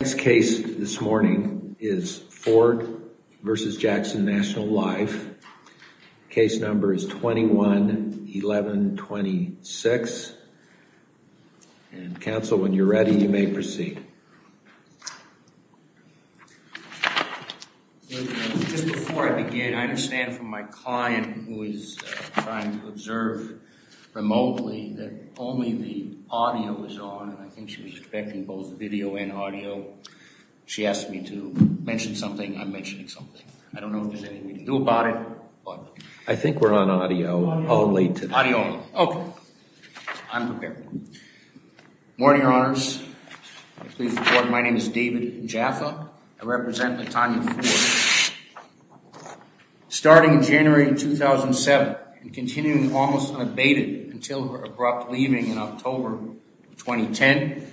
This case this morning is Ford v. Jackson National Life. Case number is 21-1126. Council, when you're ready, you may proceed. Just before I begin, I understand from my client who is trying to observe remotely that only the audio is on and I think she was expecting both video and audio. She asked me to mention something. I'm mentioning something. I don't know if there's anything we can do about it. I think we're on audio only today. Audio only. Okay. I'm prepared. Good morning, Your Honors. My name is David Jaffa. I represent October 2010.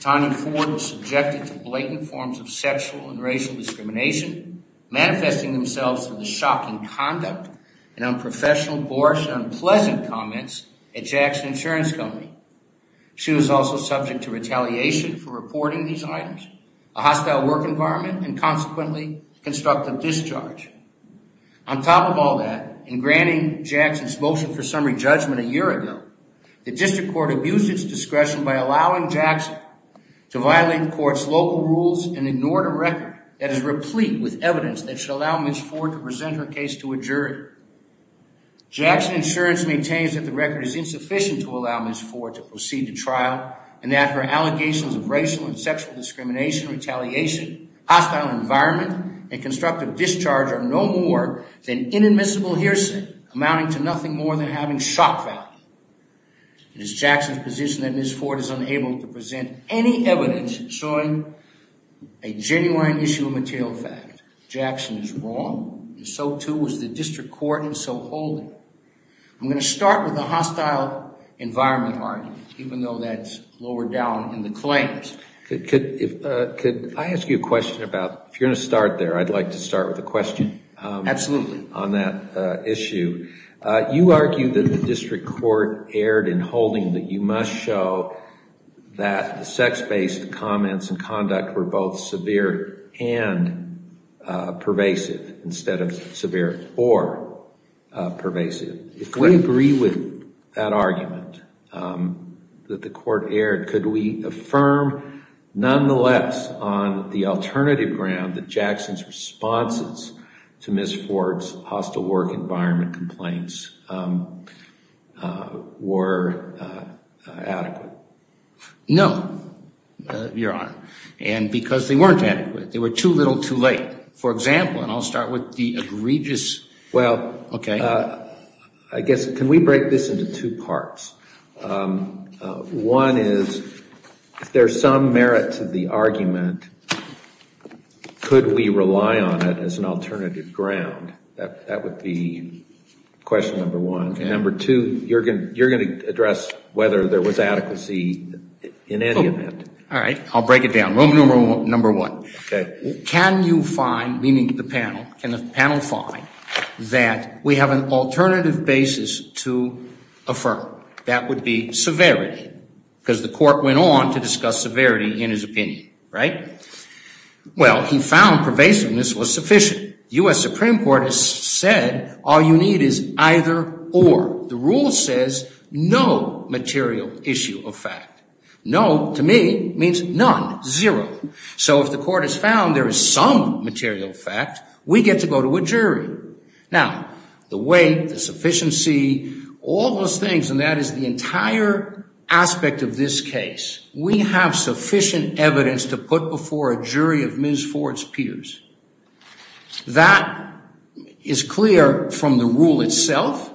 Tanya Ford was subjected to blatant forms of sexual and racial discrimination, manifesting themselves in the shocking conduct and unprofessional, boorish, and unpleasant comments at Jackson Insurance Company. She was also subject to retaliation for reporting these items, a hostile work environment and consequently, constructive discharge. On top of all that, in granting Jackson's motion for summary judgment a year ago, the district court abused its discretion by allowing Jackson to violate the court's local rules and ignored a record that is replete with evidence that should allow Ms. Ford to present her case to a jury. Jackson Insurance maintains that the record is insufficient to allow Ms. Ford to proceed to trial and that her allegations of racial and sexual discrimination, retaliation, hostile environment, and constructive discharge are no more than inadmissible hearsay, amounting to nothing more than having shock value. It is Jackson's position that Ms. Ford is unable to present any evidence showing a genuine issue of material fact. Jackson is wrong and so too is the district court and so hold it. I'm going to start with the hostile environment argument, even though that's lower down in the claims. Could I ask you a question about, if you're going to start there, I'd like to start with a question on that issue. You argue that the district court erred in holding that you must show that the sex-based comments and conduct were both severe and pervasive instead of severe or pervasive. If we agree with that argument that the court erred, could we affirm nonetheless on the alternative ground that Jackson's responses to Ms. Ford's hostile work environment complaints were adequate? No, Your Honor, and because they weren't adequate. They were too little too late. For example, and I'll start with the egregious... Well, I guess, can we break this into two parts? One is, if there's some, if there's some merit to the argument, could we rely on it as an alternative ground? That would be question number one. Number two, you're going to address whether there was adequacy in any event. All right, I'll break it down. Rule number one. Can you find, meaning the panel, can the panel find that we have an alternative basis to affirm? That would be severity, because the court went on to discuss severity in his opinion, right? Well, he found pervasiveness was sufficient. U.S. Supreme Court has said all you need is either or. The rule says no material issue of fact. No, to me, means none, zero. So if the court has found there is some material fact, we get to go to a jury. Now, the weight, the sufficiency, all those things, and that is the entire aspect of this case. We have sufficient evidence to put before a jury of Ms. Ford's peers. That is clear from the rule itself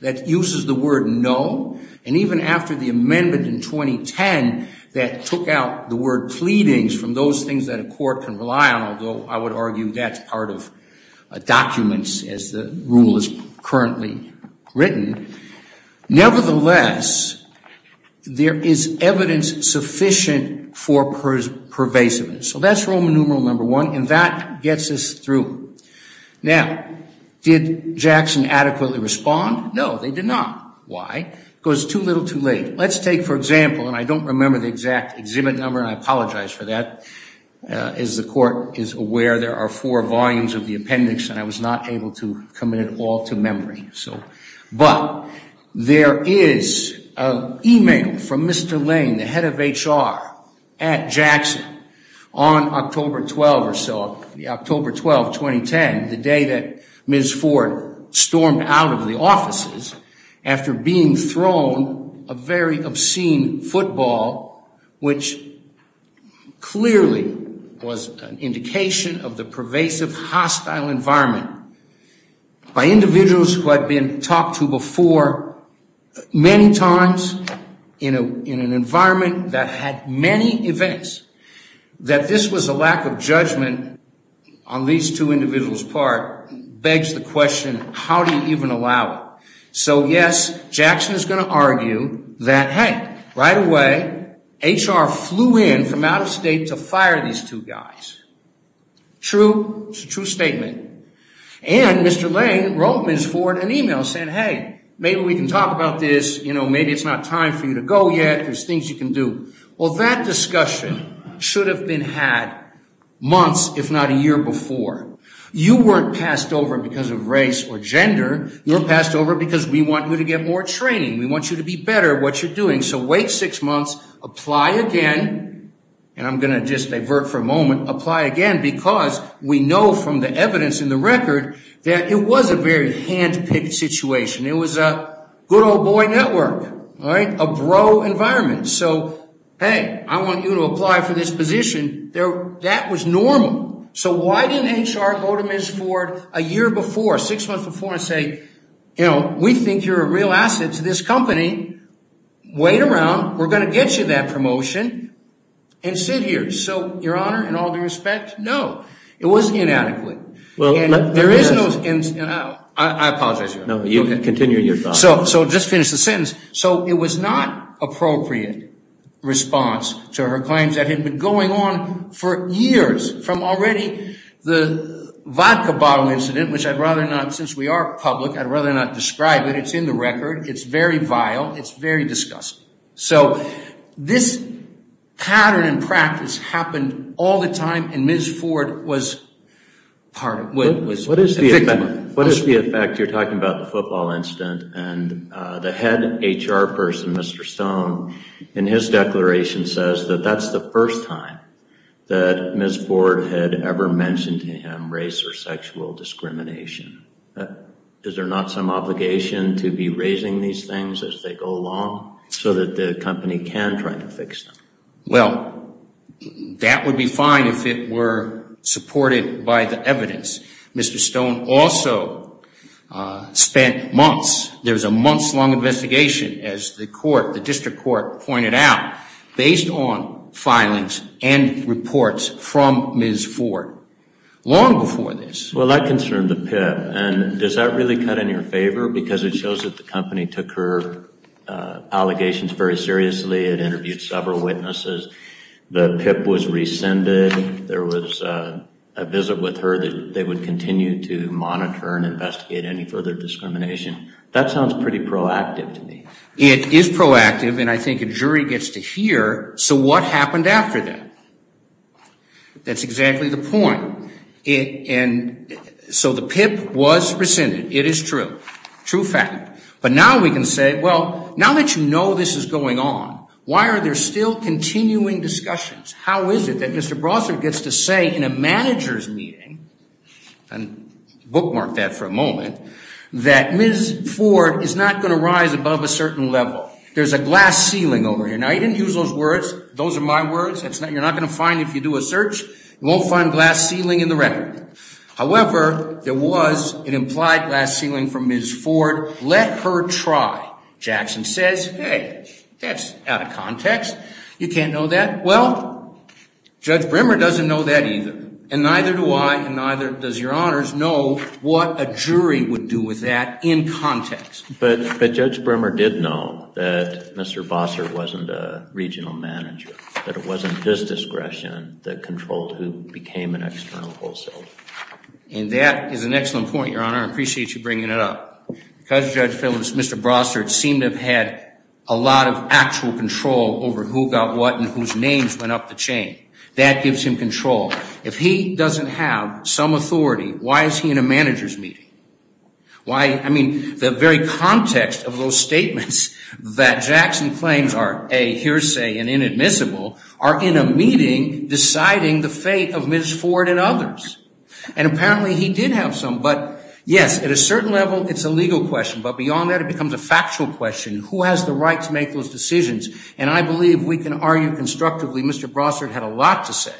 that uses the word no, and even after the amendment in 2010 that took out the word pleadings from those things that a court can rely on, although I would argue the rule is currently written. Nevertheless, there is evidence sufficient for pervasiveness. So that's Roman numeral number one, and that gets us through. Now, did Jackson adequately respond? No, they did not. Why? Because it's too little too late. Let's take, for example, and I don't remember the exact exhibit number, and I apologize for that. As the court is a four volumes of the appendix, and I was not able to commit it all to memory. But there is an email from Mr. Lane, the head of HR, at Jackson on October 12 or so, October 12, 2010, the day that Ms. Ford stormed out of the offices after being thrown a very obscene football, which clearly was an indication of the pervasive hostile environment by individuals who had been talked to before many times in an environment that had many events, that this was a lack of judgment on these two individuals' part begs the question, how do you even allow that? So yes, Jackson is going to argue that, hey, right away, HR flew in from out of state to fire these two guys. True, it's a true statement. And Mr. Lane wrote Ms. Ford an email saying, hey, maybe we can talk about this, you know, maybe it's not time for you to go yet, there's things you can do. Well, that discussion should have been had months, if not a year before. You weren't passed over because of race or gender, you were passed over because we want you to get more training, we want you to be better at what you're doing, so wait six months, apply again, and I'm going to just divert for a moment, apply again, because we know from the evidence in the record that it was a very hand-picked situation. It was a good old boy network, right, a bro environment. So hey, I want you to apply for this position, that was normal. So why didn't HR go to Ms. Ford a year before, six months before and say, you know, we think you're a real asset to this company, wait around, we're going to get you that promotion, and sit here. So, your honor, in all due respect, no, it was inadequate. And there is no, I apologize. No, you continue your thought. So just finish the sentence. So it was not appropriate response to her claims that had been going on for years, from already the vodka bottle incident, which I'd rather not, since we are public, I'd rather not describe it, it's in the record, it's very vile, it's very disgusting. So this pattern and practice happened all the time, and Ms. Ford was part of it. What is the effect, you're talking about the football incident, and the head HR person, Mr. Stone, in his declaration says that that's the first time that Ms. Ford had ever mentioned to him race or sexual discrimination. Is there not some obligation to be raising these things as they go along, so that the company can try to fix them? Well, that would be fine if it were supported by the evidence. Mr. Stone also spent months, there was a months long investigation, as the court, the district court pointed out, based on filings and reports from Ms. Ford, long before this. Well that concerned the PIP, and does that really cut in your favor, because it shows that the company took her allegations very seriously, it interviewed several witnesses, the PIP was rescinded, there was a visit with her that they would continue to monitor and investigate any further discrimination. That sounds pretty proactive to me. It is proactive, and I think a jury gets to hear, so what happened after that? That's But now we can say, well, now that you know this is going on, why are there still continuing discussions? How is it that Mr. Brossard gets to say in a manager's meeting, and bookmark that for a moment, that Ms. Ford is not going to rise above a certain level? There's a glass ceiling over here. Now he didn't use those words, those are my words, you're not going to find if you do a search, you won't find glass ceiling in the record. However, there was an implied glass ceiling from Ms. Ford, let her try. Jackson says, hey, that's out of context, you can't know that. Well, Judge Brimmer doesn't know that either, and neither do I, and neither does your honors know what a jury would do with that in context. But Judge Brimmer did know that Mr. Brossard wasn't a regional manager, that it wasn't his discretion that controlled who became an external wholesaler. And that is an excellent point, your honor, I appreciate you bringing it up. Because Judge Phillips, Mr. Brossard seemed to have had a lot of actual control over who got what and whose names went up the chain. That gives him control. If he doesn't have some authority, why is he in a manager's meeting? Why, I mean, the very context of those statements that Jackson claims are, A, hearsay and inadmissible, are in a meeting deciding the fate of Ms. Ford. And apparently he did have some, but yes, at a certain level, it's a legal question, but beyond that, it becomes a factual question. Who has the right to make those decisions? And I believe we can argue constructively, Mr. Brossard had a lot to say.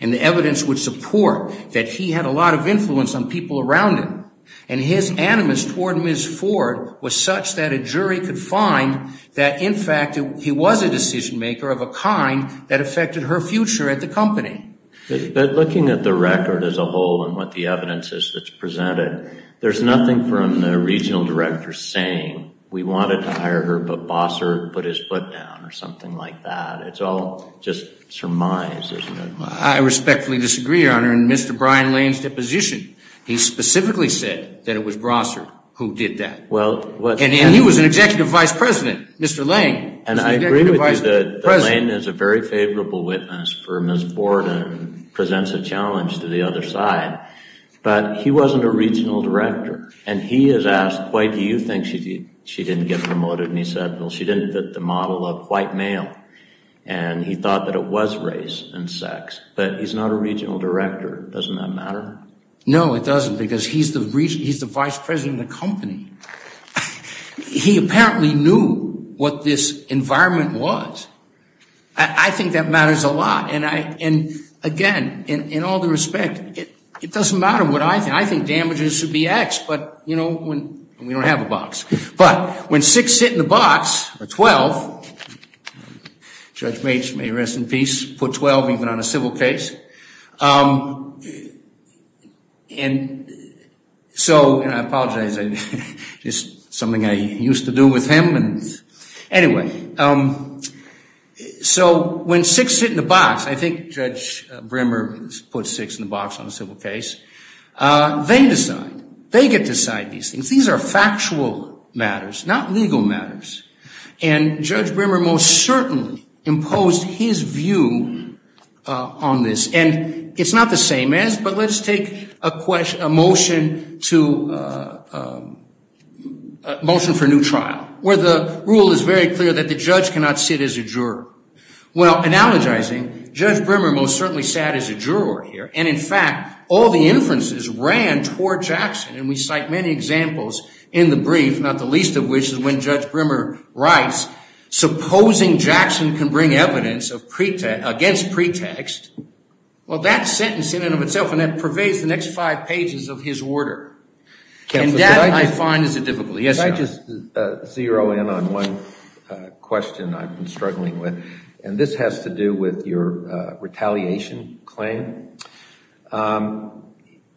And the evidence would support that he had a lot of influence on people around him. And his animus toward Ms. Ford was such that a jury could find that, in fact, he was a decision maker of a kind that affected her future at the company. But looking at the record as a whole and what the evidence is that's presented, there's nothing from the regional director saying, we wanted to hire her, but Brossard put his foot down or something like that. It's all just surmised, isn't it? I respectfully disagree, your honor. In Mr. Brian Lane's deposition, he specifically said that it was Brossard who did that. And he was an executive vice president, Mr. Lane was an executive vice president. Mr. Lane is a very favorable witness for Ms. Ford and presents a challenge to the other side, but he wasn't a regional director. And he has asked, why do you think she didn't get promoted? And he said, well, she didn't fit the model of white male. And he thought that it was race and sex, but he's not a regional director. Doesn't that matter? No, it doesn't, because he's the vice president of the company. He apparently knew what this environment was. I think that matters a lot. And I, and again, in all due respect, it doesn't matter what I think. I think damages should be X, but you know, when we don't have a box, but when six sit in the box or 12, Judge Bates may rest in peace, put 12 even on a civil case. And so, and I apologize, it's something I used to do with him. And anyway, so when six sit in the box, I think Judge Brimmer put six in the box on a civil case. They decide, they get to decide these things. These are factual matters, not legal matters. And Judge Brimmer most certainly imposed his view on this. And it's not the same as, but let's take a motion to, a motion for a new trial where the rule is very clear that the judge cannot sit as a juror. Well, analogizing, Judge Brimmer most certainly sat as a juror here. And in fact, all the inferences ran toward Jackson. And we cite many examples in the brief, not the least of which is when Judge Brimmer writes, supposing Jackson can bring evidence against pretext. Well, that sentence in and of itself, and that pervades the next five pages of his order. And that I find is a difficulty. Yes, John? I'd just zero in on one question I've been struggling with, and this has to do with your retaliation claim.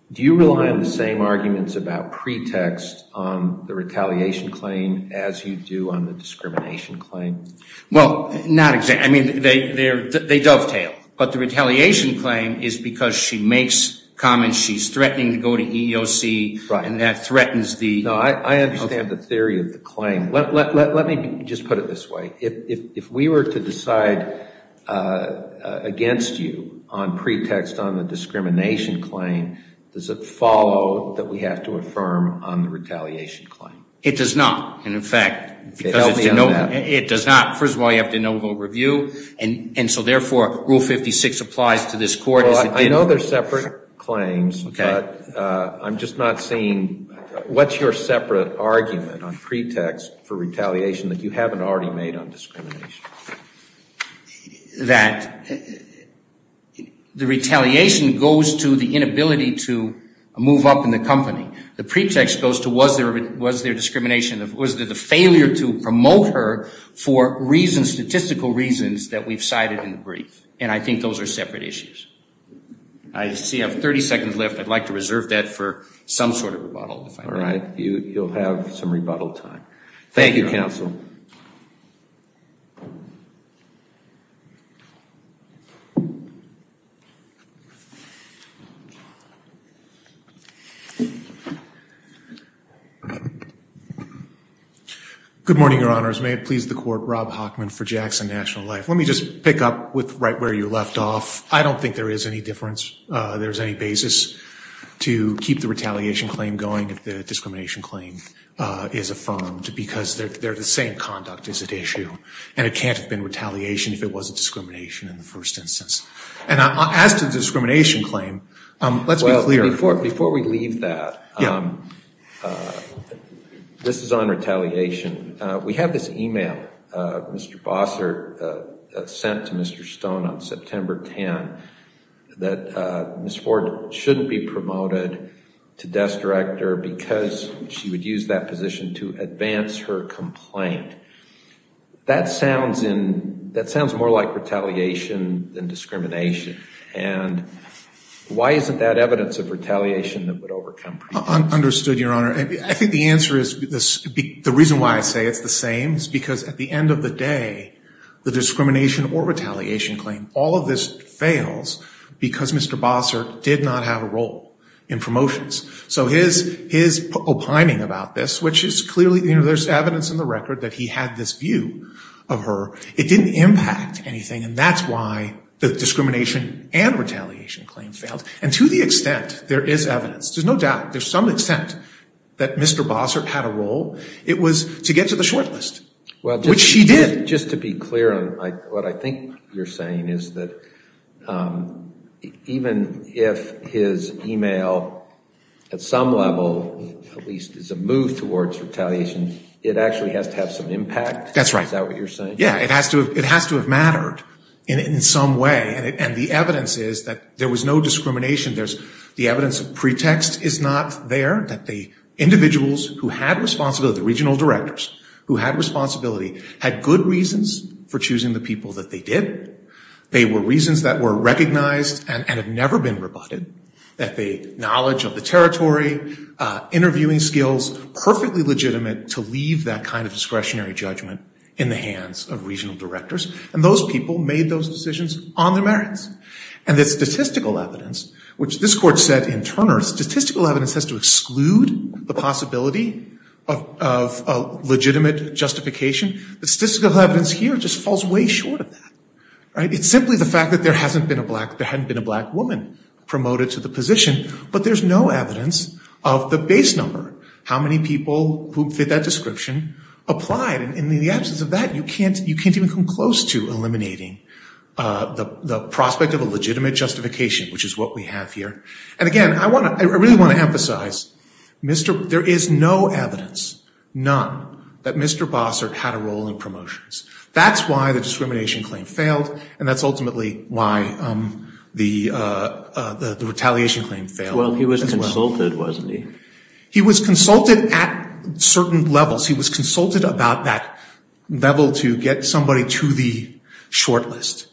Do you rely on the same arguments about pretext on the retaliation claim as you do on the discrimination claim? Well, not exactly. I mean, they dovetail. But the retaliation claim is because she makes comments she's threatening to go to EEOC, and that threatens the... No, I understand the theory of the claim. Let me just put it this way. If we were to decide against you on pretext on the discrimination claim, does it follow that we have to affirm on the retaliation claim? It does not. And in fact, because it does not. First of all, you have to know who will review. And so therefore, Rule 56 applies to this court. I know they're separate claims, but I'm just not seeing... What's your separate argument on pretext for retaliation that you haven't already made on discrimination? That the retaliation goes to the inability to move up in the company. The pretext goes to was there discrimination? Was there the failure to promote her for reasons, statistical reasons, that we've cited in the brief? And I think those are separate issues. I see I have 30 seconds left. I'd like to reserve that for some sort of rebuttal, if I may. All right. You'll have some rebuttal time. Thank you, Counsel. Good morning, Your Honors. May it be so. Let me just pick up with right where you left off. I don't think there is any difference. There's any basis to keep the retaliation claim going if the discrimination claim is affirmed because they're the same conduct is at issue. And it can't have been retaliation if it wasn't discrimination in the first instance. And as to the discrimination claim, let's be clear. Before we leave that, this is on retaliation. We have this email, Mr. Bossert, sent to Mr. Stone on September 10, that Ms. Ford shouldn't be promoted to desk director because she would use that position to advance her complaint. That sounds more like retaliation than discrimination. And why isn't that evidence of retaliation that would overcome prejudice? Understood, Your Honor. I think the answer is, the reason why I say it's the same is because at the end of the day, the discrimination or retaliation claim, all of this fails because Mr. Bossert did not have a role in promotions. So his opining about this, which is clearly there's evidence in the record that he had this view of her, it didn't impact anything. And that's why the discrimination and retaliation claim failed. And to the extent there is evidence, there's no doubt, there's some extent that Mr. Bossert had a role, it was to get to the desk, which he did. Just to be clear on what I think you're saying is that even if his email at some level, at least is a move towards retaliation, it actually has to have some impact? That's right. Is that what you're saying? Yeah, it has to have mattered in some way. And the evidence is that there was no discrimination. The evidence of pretext is not there, that the individuals who had responsibility, the regional directors, who had responsibility had good reasons for choosing the people that they did. They were reasons that were recognized and had never been rebutted. That the knowledge of the territory, interviewing skills, perfectly legitimate to leave that kind of discretionary judgment in the hands of regional directors. And those people made those decisions on their merits. And the statistical evidence, which this court said in Turner, statistical evidence has to exclude the possibility of legitimate justification. The statistical evidence here just falls way short of that. It's simply the fact that there hadn't been a black woman promoted to the position, but there's no evidence of the base number, how many people who fit that description applied. And in the absence of that, you can't even come close to eliminating the prospect of a legitimate justification, which is what we have here. And again, I really want to emphasize, there is no evidence, none, that Mr. Bossert had a role in promotions. That's why the discrimination claim failed and that's ultimately why the retaliation claim failed as well. Well, he was consulted, wasn't he? He was consulted at certain levels. He was consulted about that level to get somebody to the short list.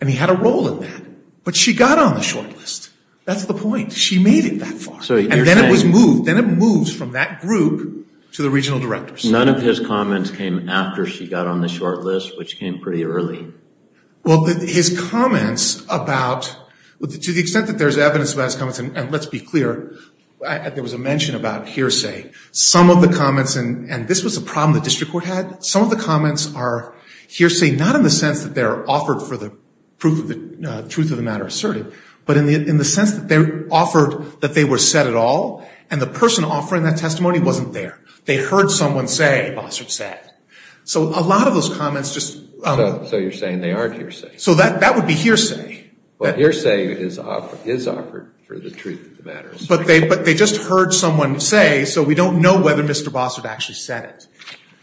And he had a role in that. But she got on the short list. That's the point. She made it that far. And then it was moved. Then it moved from that group to the regional directors. None of his comments came after she got on the short list, which came pretty early. Well, his comments about, to the extent that there's evidence of his comments, and let's be clear, there was a mention about hearsay. Some of the comments, and this was a problem the district court had, some of the comments are hearsay, not in the sense that they're offered for the truth of the matter asserted, but in the sense that they're offered that they were said at all, and the person offering that testimony wasn't there. They heard someone say, Bossert said. So a lot of those comments just... So you're saying they aren't hearsay. So that would be hearsay. Well, hearsay is offered for the truth of the matter asserted. But they just heard someone say, so we don't know whether Mr. Bossert actually said it,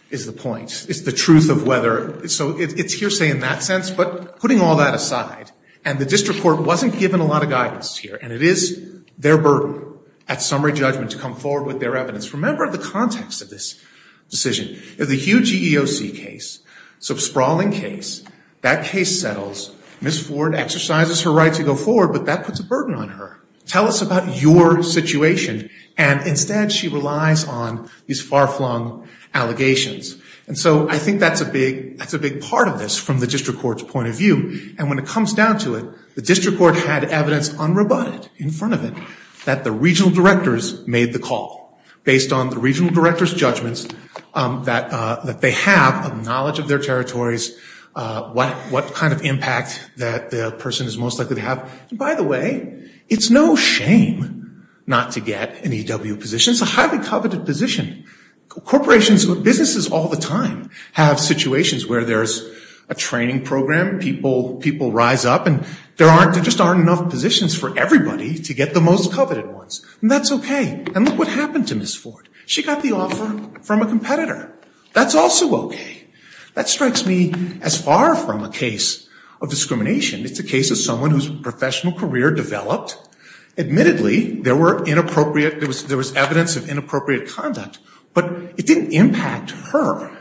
is the point. It's the truth of whether... So it's hearsay in that sense, but putting all that aside, and the district court wasn't given a lot of guidance here, and it is their burden at summary judgment to come forward with their evidence. Remember the context of this decision. If the Hugh GEOC case, so sprawling case, that case settles, Ms. Ford exercises her right to go forward, but that puts a burden on her. Tell us about your situation. And instead, she relies on these far-flung allegations. And so I think that's a big part of this from the district court's point of view. And when it comes down to it, the district court had evidence unroboted in front of it that the regional directors made the call based on the regional director's judgments that they have of knowledge of their territories, what kind of impact that the person is most likely to have. By the way, it's no shame not to get an EW position. It's a highly coveted position. Corporations, businesses all the time have situations where there's a training program, people rise up, and there just aren't enough positions for everybody to get the most coveted ones. And that's okay. And look what happened to Ms. Ford. She got the offer from a competitor. That's also okay. That strikes me as far from a case of discrimination. It's a case of someone whose professional career developed. Admittedly, there were inappropriate, there was evidence of inappropriate conduct, but it didn't impact her.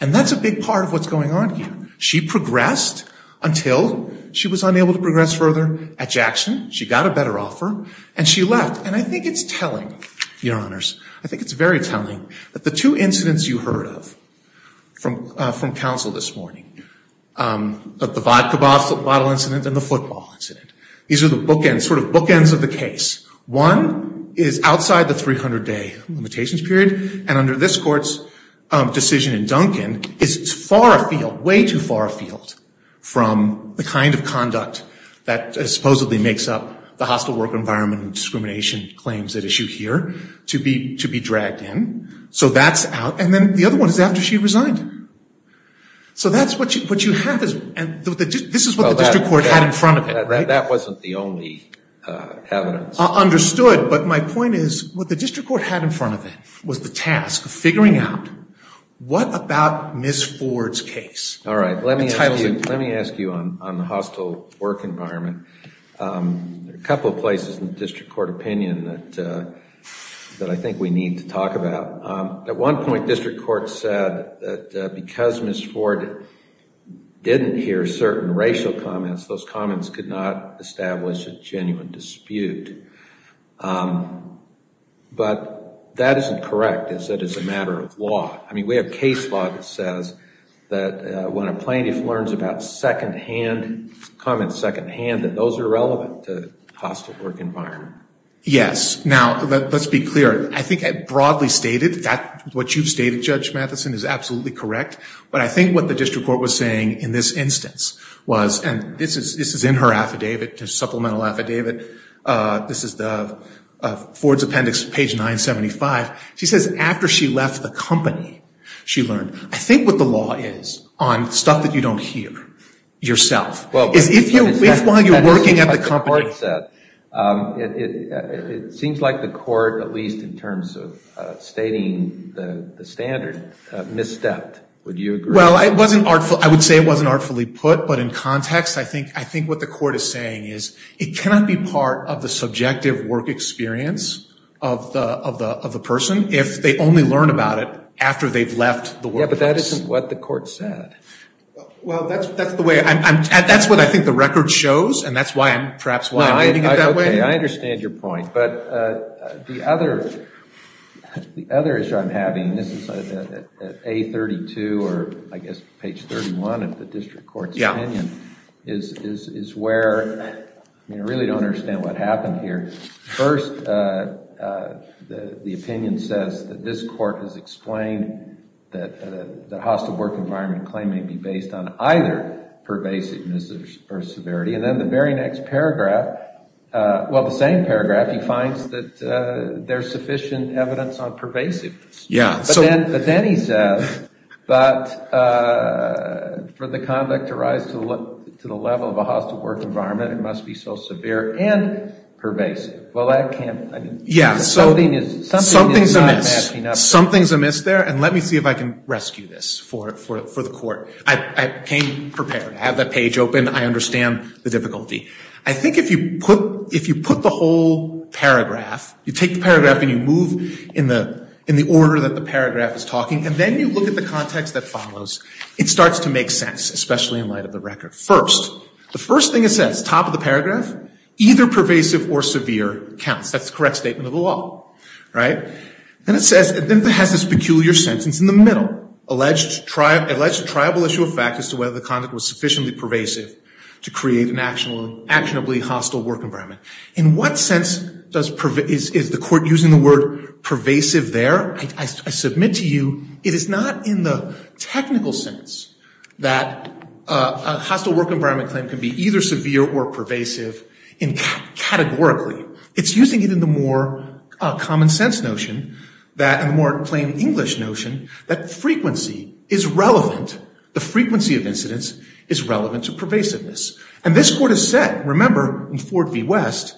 And that's a big part of what's going on here. She progressed until she was unable to progress further at Jackson. She got a better offer, and she left. And I think it's telling, Your Honors. I think it's very telling that the two incidents you heard of from counsel this morning, the vodka bottle incident and the football incident, these are the bookends, sort of bookends of the case. One is outside the 300-day limitations period, and under this Court's decision in Duncan, is far afield, way too far afield from the kind of conduct that supposedly makes up the hostile work environment and discrimination claims at issue here to be dragged in. So that's out. And then the other one is after she resigned. So that's what you have. And this is what the District Court had in front of it, right? That wasn't the only evidence. Understood. But my point is, what the District Court had in front of it was the task of figuring out what about Ms. Ford's case? All right. Let me ask you on the hostile work environment. A couple of places in the District Court opinion that I think we need to talk about. At one point, District Court said that because Ms. Ford didn't hear certain racial comments, those comments could not establish a genuine dispute. But that isn't correct. It said it's a matter of law. I mean, we have case law that says that when a plaintiff learns about secondhand, comments secondhand, that those are relevant to the hostile work environment. Yes. Now, let's be clear. I think I broadly stated that what you've stated, Judge Matheson, is absolutely correct. But I think what the District Court was saying in this instance was, and this is in her affidavit, her supplemental affidavit. This is Ford's appendix, page 975. She says after she left the company, she learned. I think what the law is on stuff that you don't hear yourself. That's what the court said. It seems like the court, at least in terms of stating the standard, misstepped. Would you agree? Well, I would say it wasn't artfully put. But in context, I think what the court is saying is it cannot be part of the subjective work experience of the person if they only learn about it after they've left the workplace. Yeah, but that isn't what the court said. Well, that's the way. That's what I think the record shows, and that's perhaps why I'm reading it that way. Okay, I understand your point. But the other issue I'm having, this is at A32 or I guess page 31 of the District Court's opinion, is where, I mean, I really don't understand what happened here. First, the opinion says that this court has explained that the hostile work environment claim may be based on either pervasiveness or severity. And then the very next paragraph, well, the same paragraph, he finds that there's sufficient evidence on pervasiveness. Yeah. But then he says that for the conduct to rise to the level of a hostile work environment, it must be so severe and pervasive. Well, that can't, I mean, something is not matching up. Something's amiss there, and let me see if I can rescue this for the court. I came prepared. I have that page open. I understand the difficulty. I think if you put the whole paragraph, you take the paragraph and you move in the order that the paragraph is talking, and then you look at the context that follows, it starts to make sense, especially in light of the record. First, the first thing it says, top of the paragraph, either pervasive or severe counts. That's the correct statement of the law, right? And it says, it has this peculiar sentence in the middle, alleged triable issue of fact as to whether the conduct was sufficiently pervasive to create an actionably hostile work environment. In what sense is the court using the word pervasive there? I submit to you, it is not in the technical sense that a hostile work environment claim can be either severe or hostile. It's really in the more common sense notion and the more plain English notion that frequency is relevant. The frequency of incidents is relevant to pervasiveness. And this court has said, remember, in Ford v. West,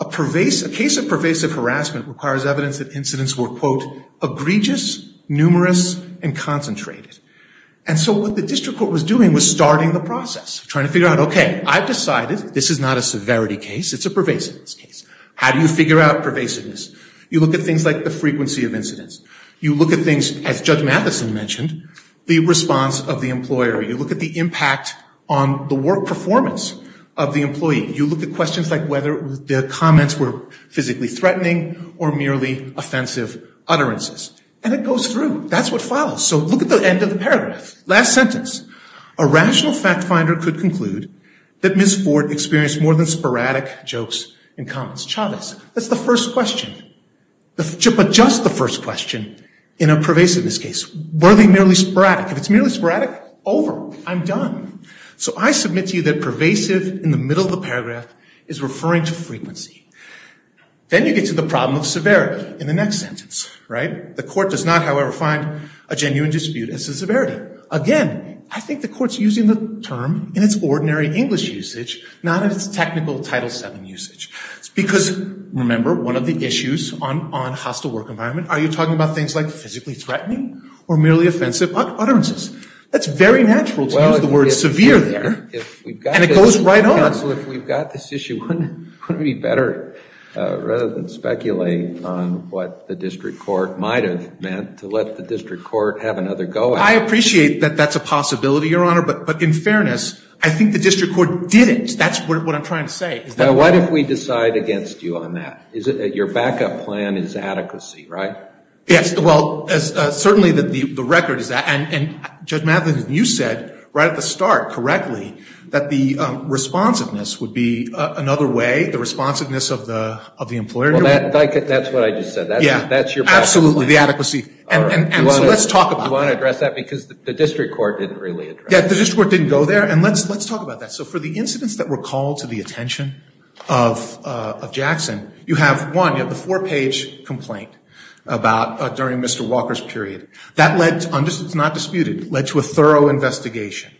a case of pervasive harassment requires evidence that incidents were, quote, egregious, numerous, and concentrated. And so what the district court was doing was starting the process, trying to figure out, OK, I've decided this is not a severity case. It's a pervasiveness case. How do you figure out pervasiveness? You look at things like the frequency of incidents. You look at things, as Judge Matheson mentioned, the response of the employer. You look at the impact on the work performance of the employee. You look at questions like whether the comments were physically threatening or merely offensive utterances. And it goes through. That's what follows. So look at the end of the paragraph, last sentence. A rational fact finder could conclude that Ms. Ford experienced more than sporadic jokes and comments. Chavez, that's the first question. But just the first question in a pervasiveness case. Were they merely sporadic? If it's merely sporadic, over. I'm done. So I submit to you that pervasive in the middle of the paragraph is referring to frequency. Then you get to the problem of severity in the next sentence, right? The court does not, however, find a genuine dispute as to severity. Again, I think the court's using the term in its ordinary English usage, not in its technical Title VII usage. It's because, remember, one of the issues on hostile work environment, are you talking about things like physically threatening or merely offensive utterances? That's very natural to use the word severe there. And it goes right on. So if we've got this issue, wouldn't it be better, rather than speculate on what the district court might have meant, to let the district court have another go at it? I appreciate that that's a possibility, Your Honor, but in fairness, I think the district court didn't. That's what I'm trying to say. Now, what if we decide against you on that? Your backup plan is adequacy, right? Yes, well, certainly the record is that. And Judge Matlin, you said right at the start, correctly, that the responsiveness would be another way, the responsiveness of the employer. Well, that's what I just said. That's your backup plan. Absolutely, the adequacy. And so let's talk about that. Do you want to address that? Because the district court didn't really address that. Yeah, the district court didn't go there. And let's talk about that. So for the incidents that were called to the attention of Jackson, you have, one, you have the four-page complaint during Mr. Walker's period. That led to, it's not disputed, led to a thorough investigation.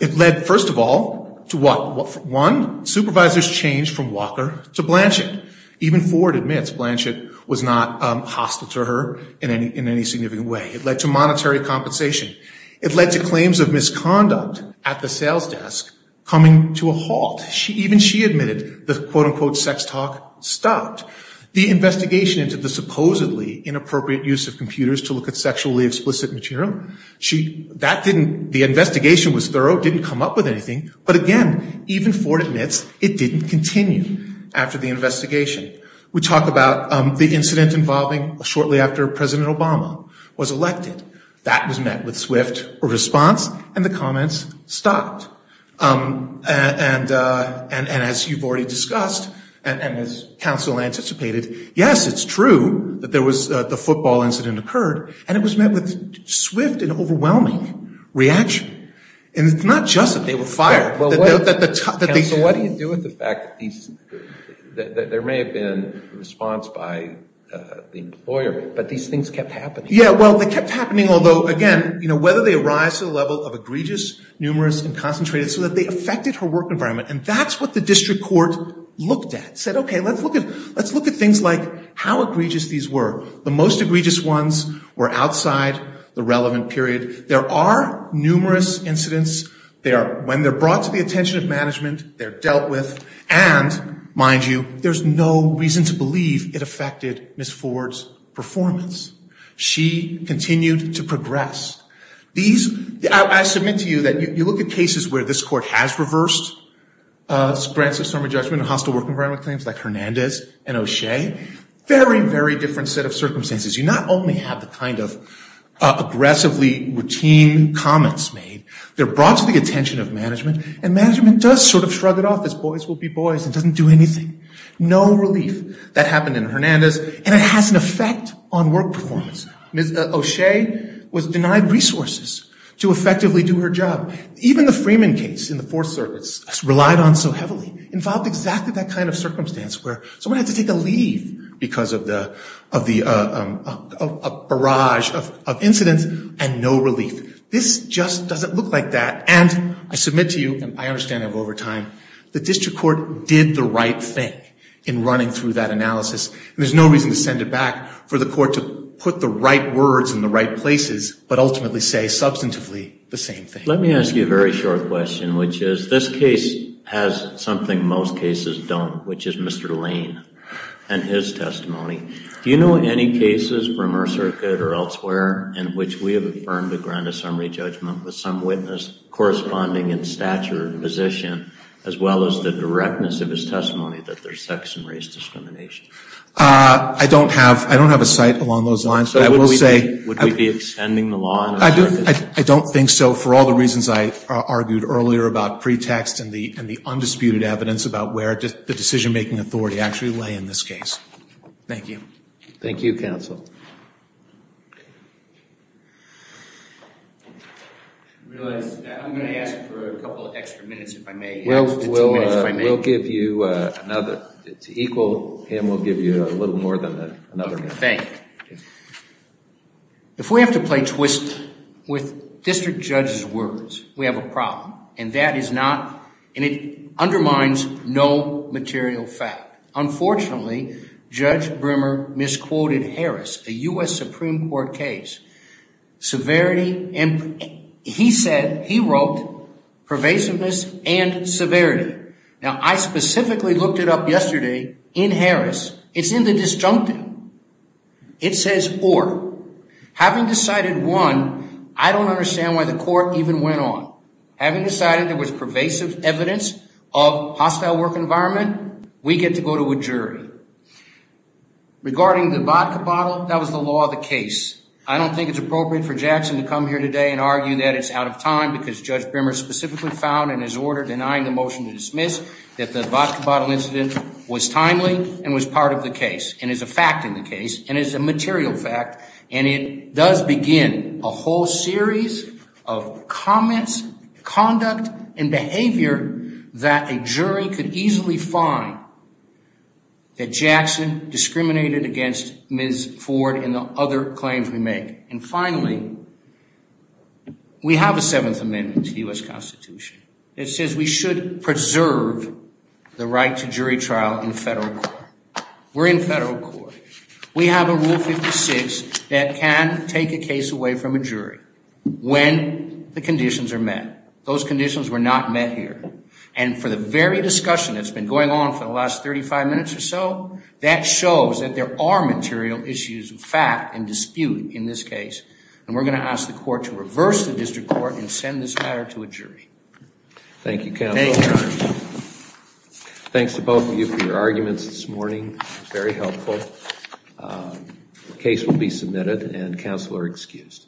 It led, first of all, to what? One, supervisors changed from Walker to Blanchett. Even Ford admits Blanchett was not hostile to her in any significant way. It led to monetary compensation. It led to claims of misconduct at the sales desk coming to a halt. Even she admitted the quote-unquote sex talk stopped. The investigation into the supposedly inappropriate use of computers to look at sexually explicit material, that didn't, the investigation was thorough, didn't come up with anything. But again, even Ford admits it didn't continue after the investigation. We talk about the incident involving shortly after President Obama was elected. That was met with swift response and the comments stopped. And as you've already discussed, and as counsel anticipated, yes, it's true that there was the football incident occurred, and it was met with swift and overwhelming reaction. And it's not just that they were fired. But what do you do with the fact that there may have been a response by the employer, but these things kept happening? Yeah, well, they kept happening, although, again, you know, they arise to the level of egregious, numerous, and concentrated, so that they affected her work environment. And that's what the district court looked at. Said, okay, let's look at things like how egregious these were. The most egregious ones were outside the relevant period. There are numerous incidents. When they're brought to the attention of management, they're dealt with. And, mind you, there's no reason to believe it affected Ms. Ford's performance. She continued to progress. These – I submit to you that you look at cases where this court has reversed grants of summary judgment and hostile work environment claims, like Hernandez and O'Shea. Very, very different set of circumstances. You not only have the kind of aggressively routine comments made, they're brought to the attention of management, and management does sort of shrug it off as boys will be boys and doesn't do anything. No relief. That happened in Hernandez, and it has an effect on work performance. Ms. O'Shea was denied resources to effectively do her job. Even the Freeman case in the Fourth Circuit, relied on so heavily, involved exactly that kind of circumstance, where someone had to take a leave because of the barrage of incidents and no relief. This just doesn't look like that. And I submit to you, and I understand I'm over time, the district court did the right thing in running through that analysis. There's no reason to send it back for the court to put the right words in the right places, but ultimately say substantively the same thing. Let me ask you a very short question, which is, this case has something most cases don't, which is Mr. Lane and his testimony. Do you know any cases from our circuit or elsewhere in which we have affirmed a grant of summary judgment with some witness corresponding in stature and position, as well as the directness of his testimony that there's sex and race discrimination? I don't have a site along those lines. Would we be extending the law? I don't think so, for all the reasons I argued earlier about pretext and the undisputed evidence about where the decision-making authority actually lay in this case. Thank you. Thank you, counsel. I'm going to ask for a couple of extra minutes, if I may. We'll give you another. It's equal, and we'll give you a little more than another minute. Thank you. If we have to play twist with district judge's words, we have a problem, and that is not, and it undermines no material fact. Unfortunately, Judge Brimmer misquoted Harris, a U.S. Supreme Court case. He said, he wrote, pervasiveness and severity. Now, I specifically looked it up yesterday in Harris. It's in the disjunctive. It says or. Having decided one, I don't understand why the court even went on. Having decided there was pervasive evidence of hostile work environment, we get to go to a jury. Regarding the vodka bottle, that was the law of the case. I don't think it's appropriate for Jackson to come here today and argue that it's out of time because Judge Brimmer specifically found in his order denying the motion to dismiss that the vodka bottle incident was timely and was part of the case and is a fact in the case and is a material fact, and it does begin a whole series of comments, conduct, and behavior that a jury could easily find that Jackson discriminated against Ms. Ford and the other claims we make. And finally, we have a Seventh Amendment to the U.S. Constitution. It says we should preserve the right to jury trial in federal court. We're in federal court. We have a Rule 56 that can take a case away from a jury when the conditions are met. Those conditions were not met here. And for the very discussion that's been going on for the last 35 minutes or so, that shows that there are material issues of fact and dispute in this case, and we're going to ask the court to reverse the district court and send this matter to a jury. Thank you, counsel. Thanks to both of you for your arguments this morning. It was very helpful. The case will be submitted, and counsel are excused.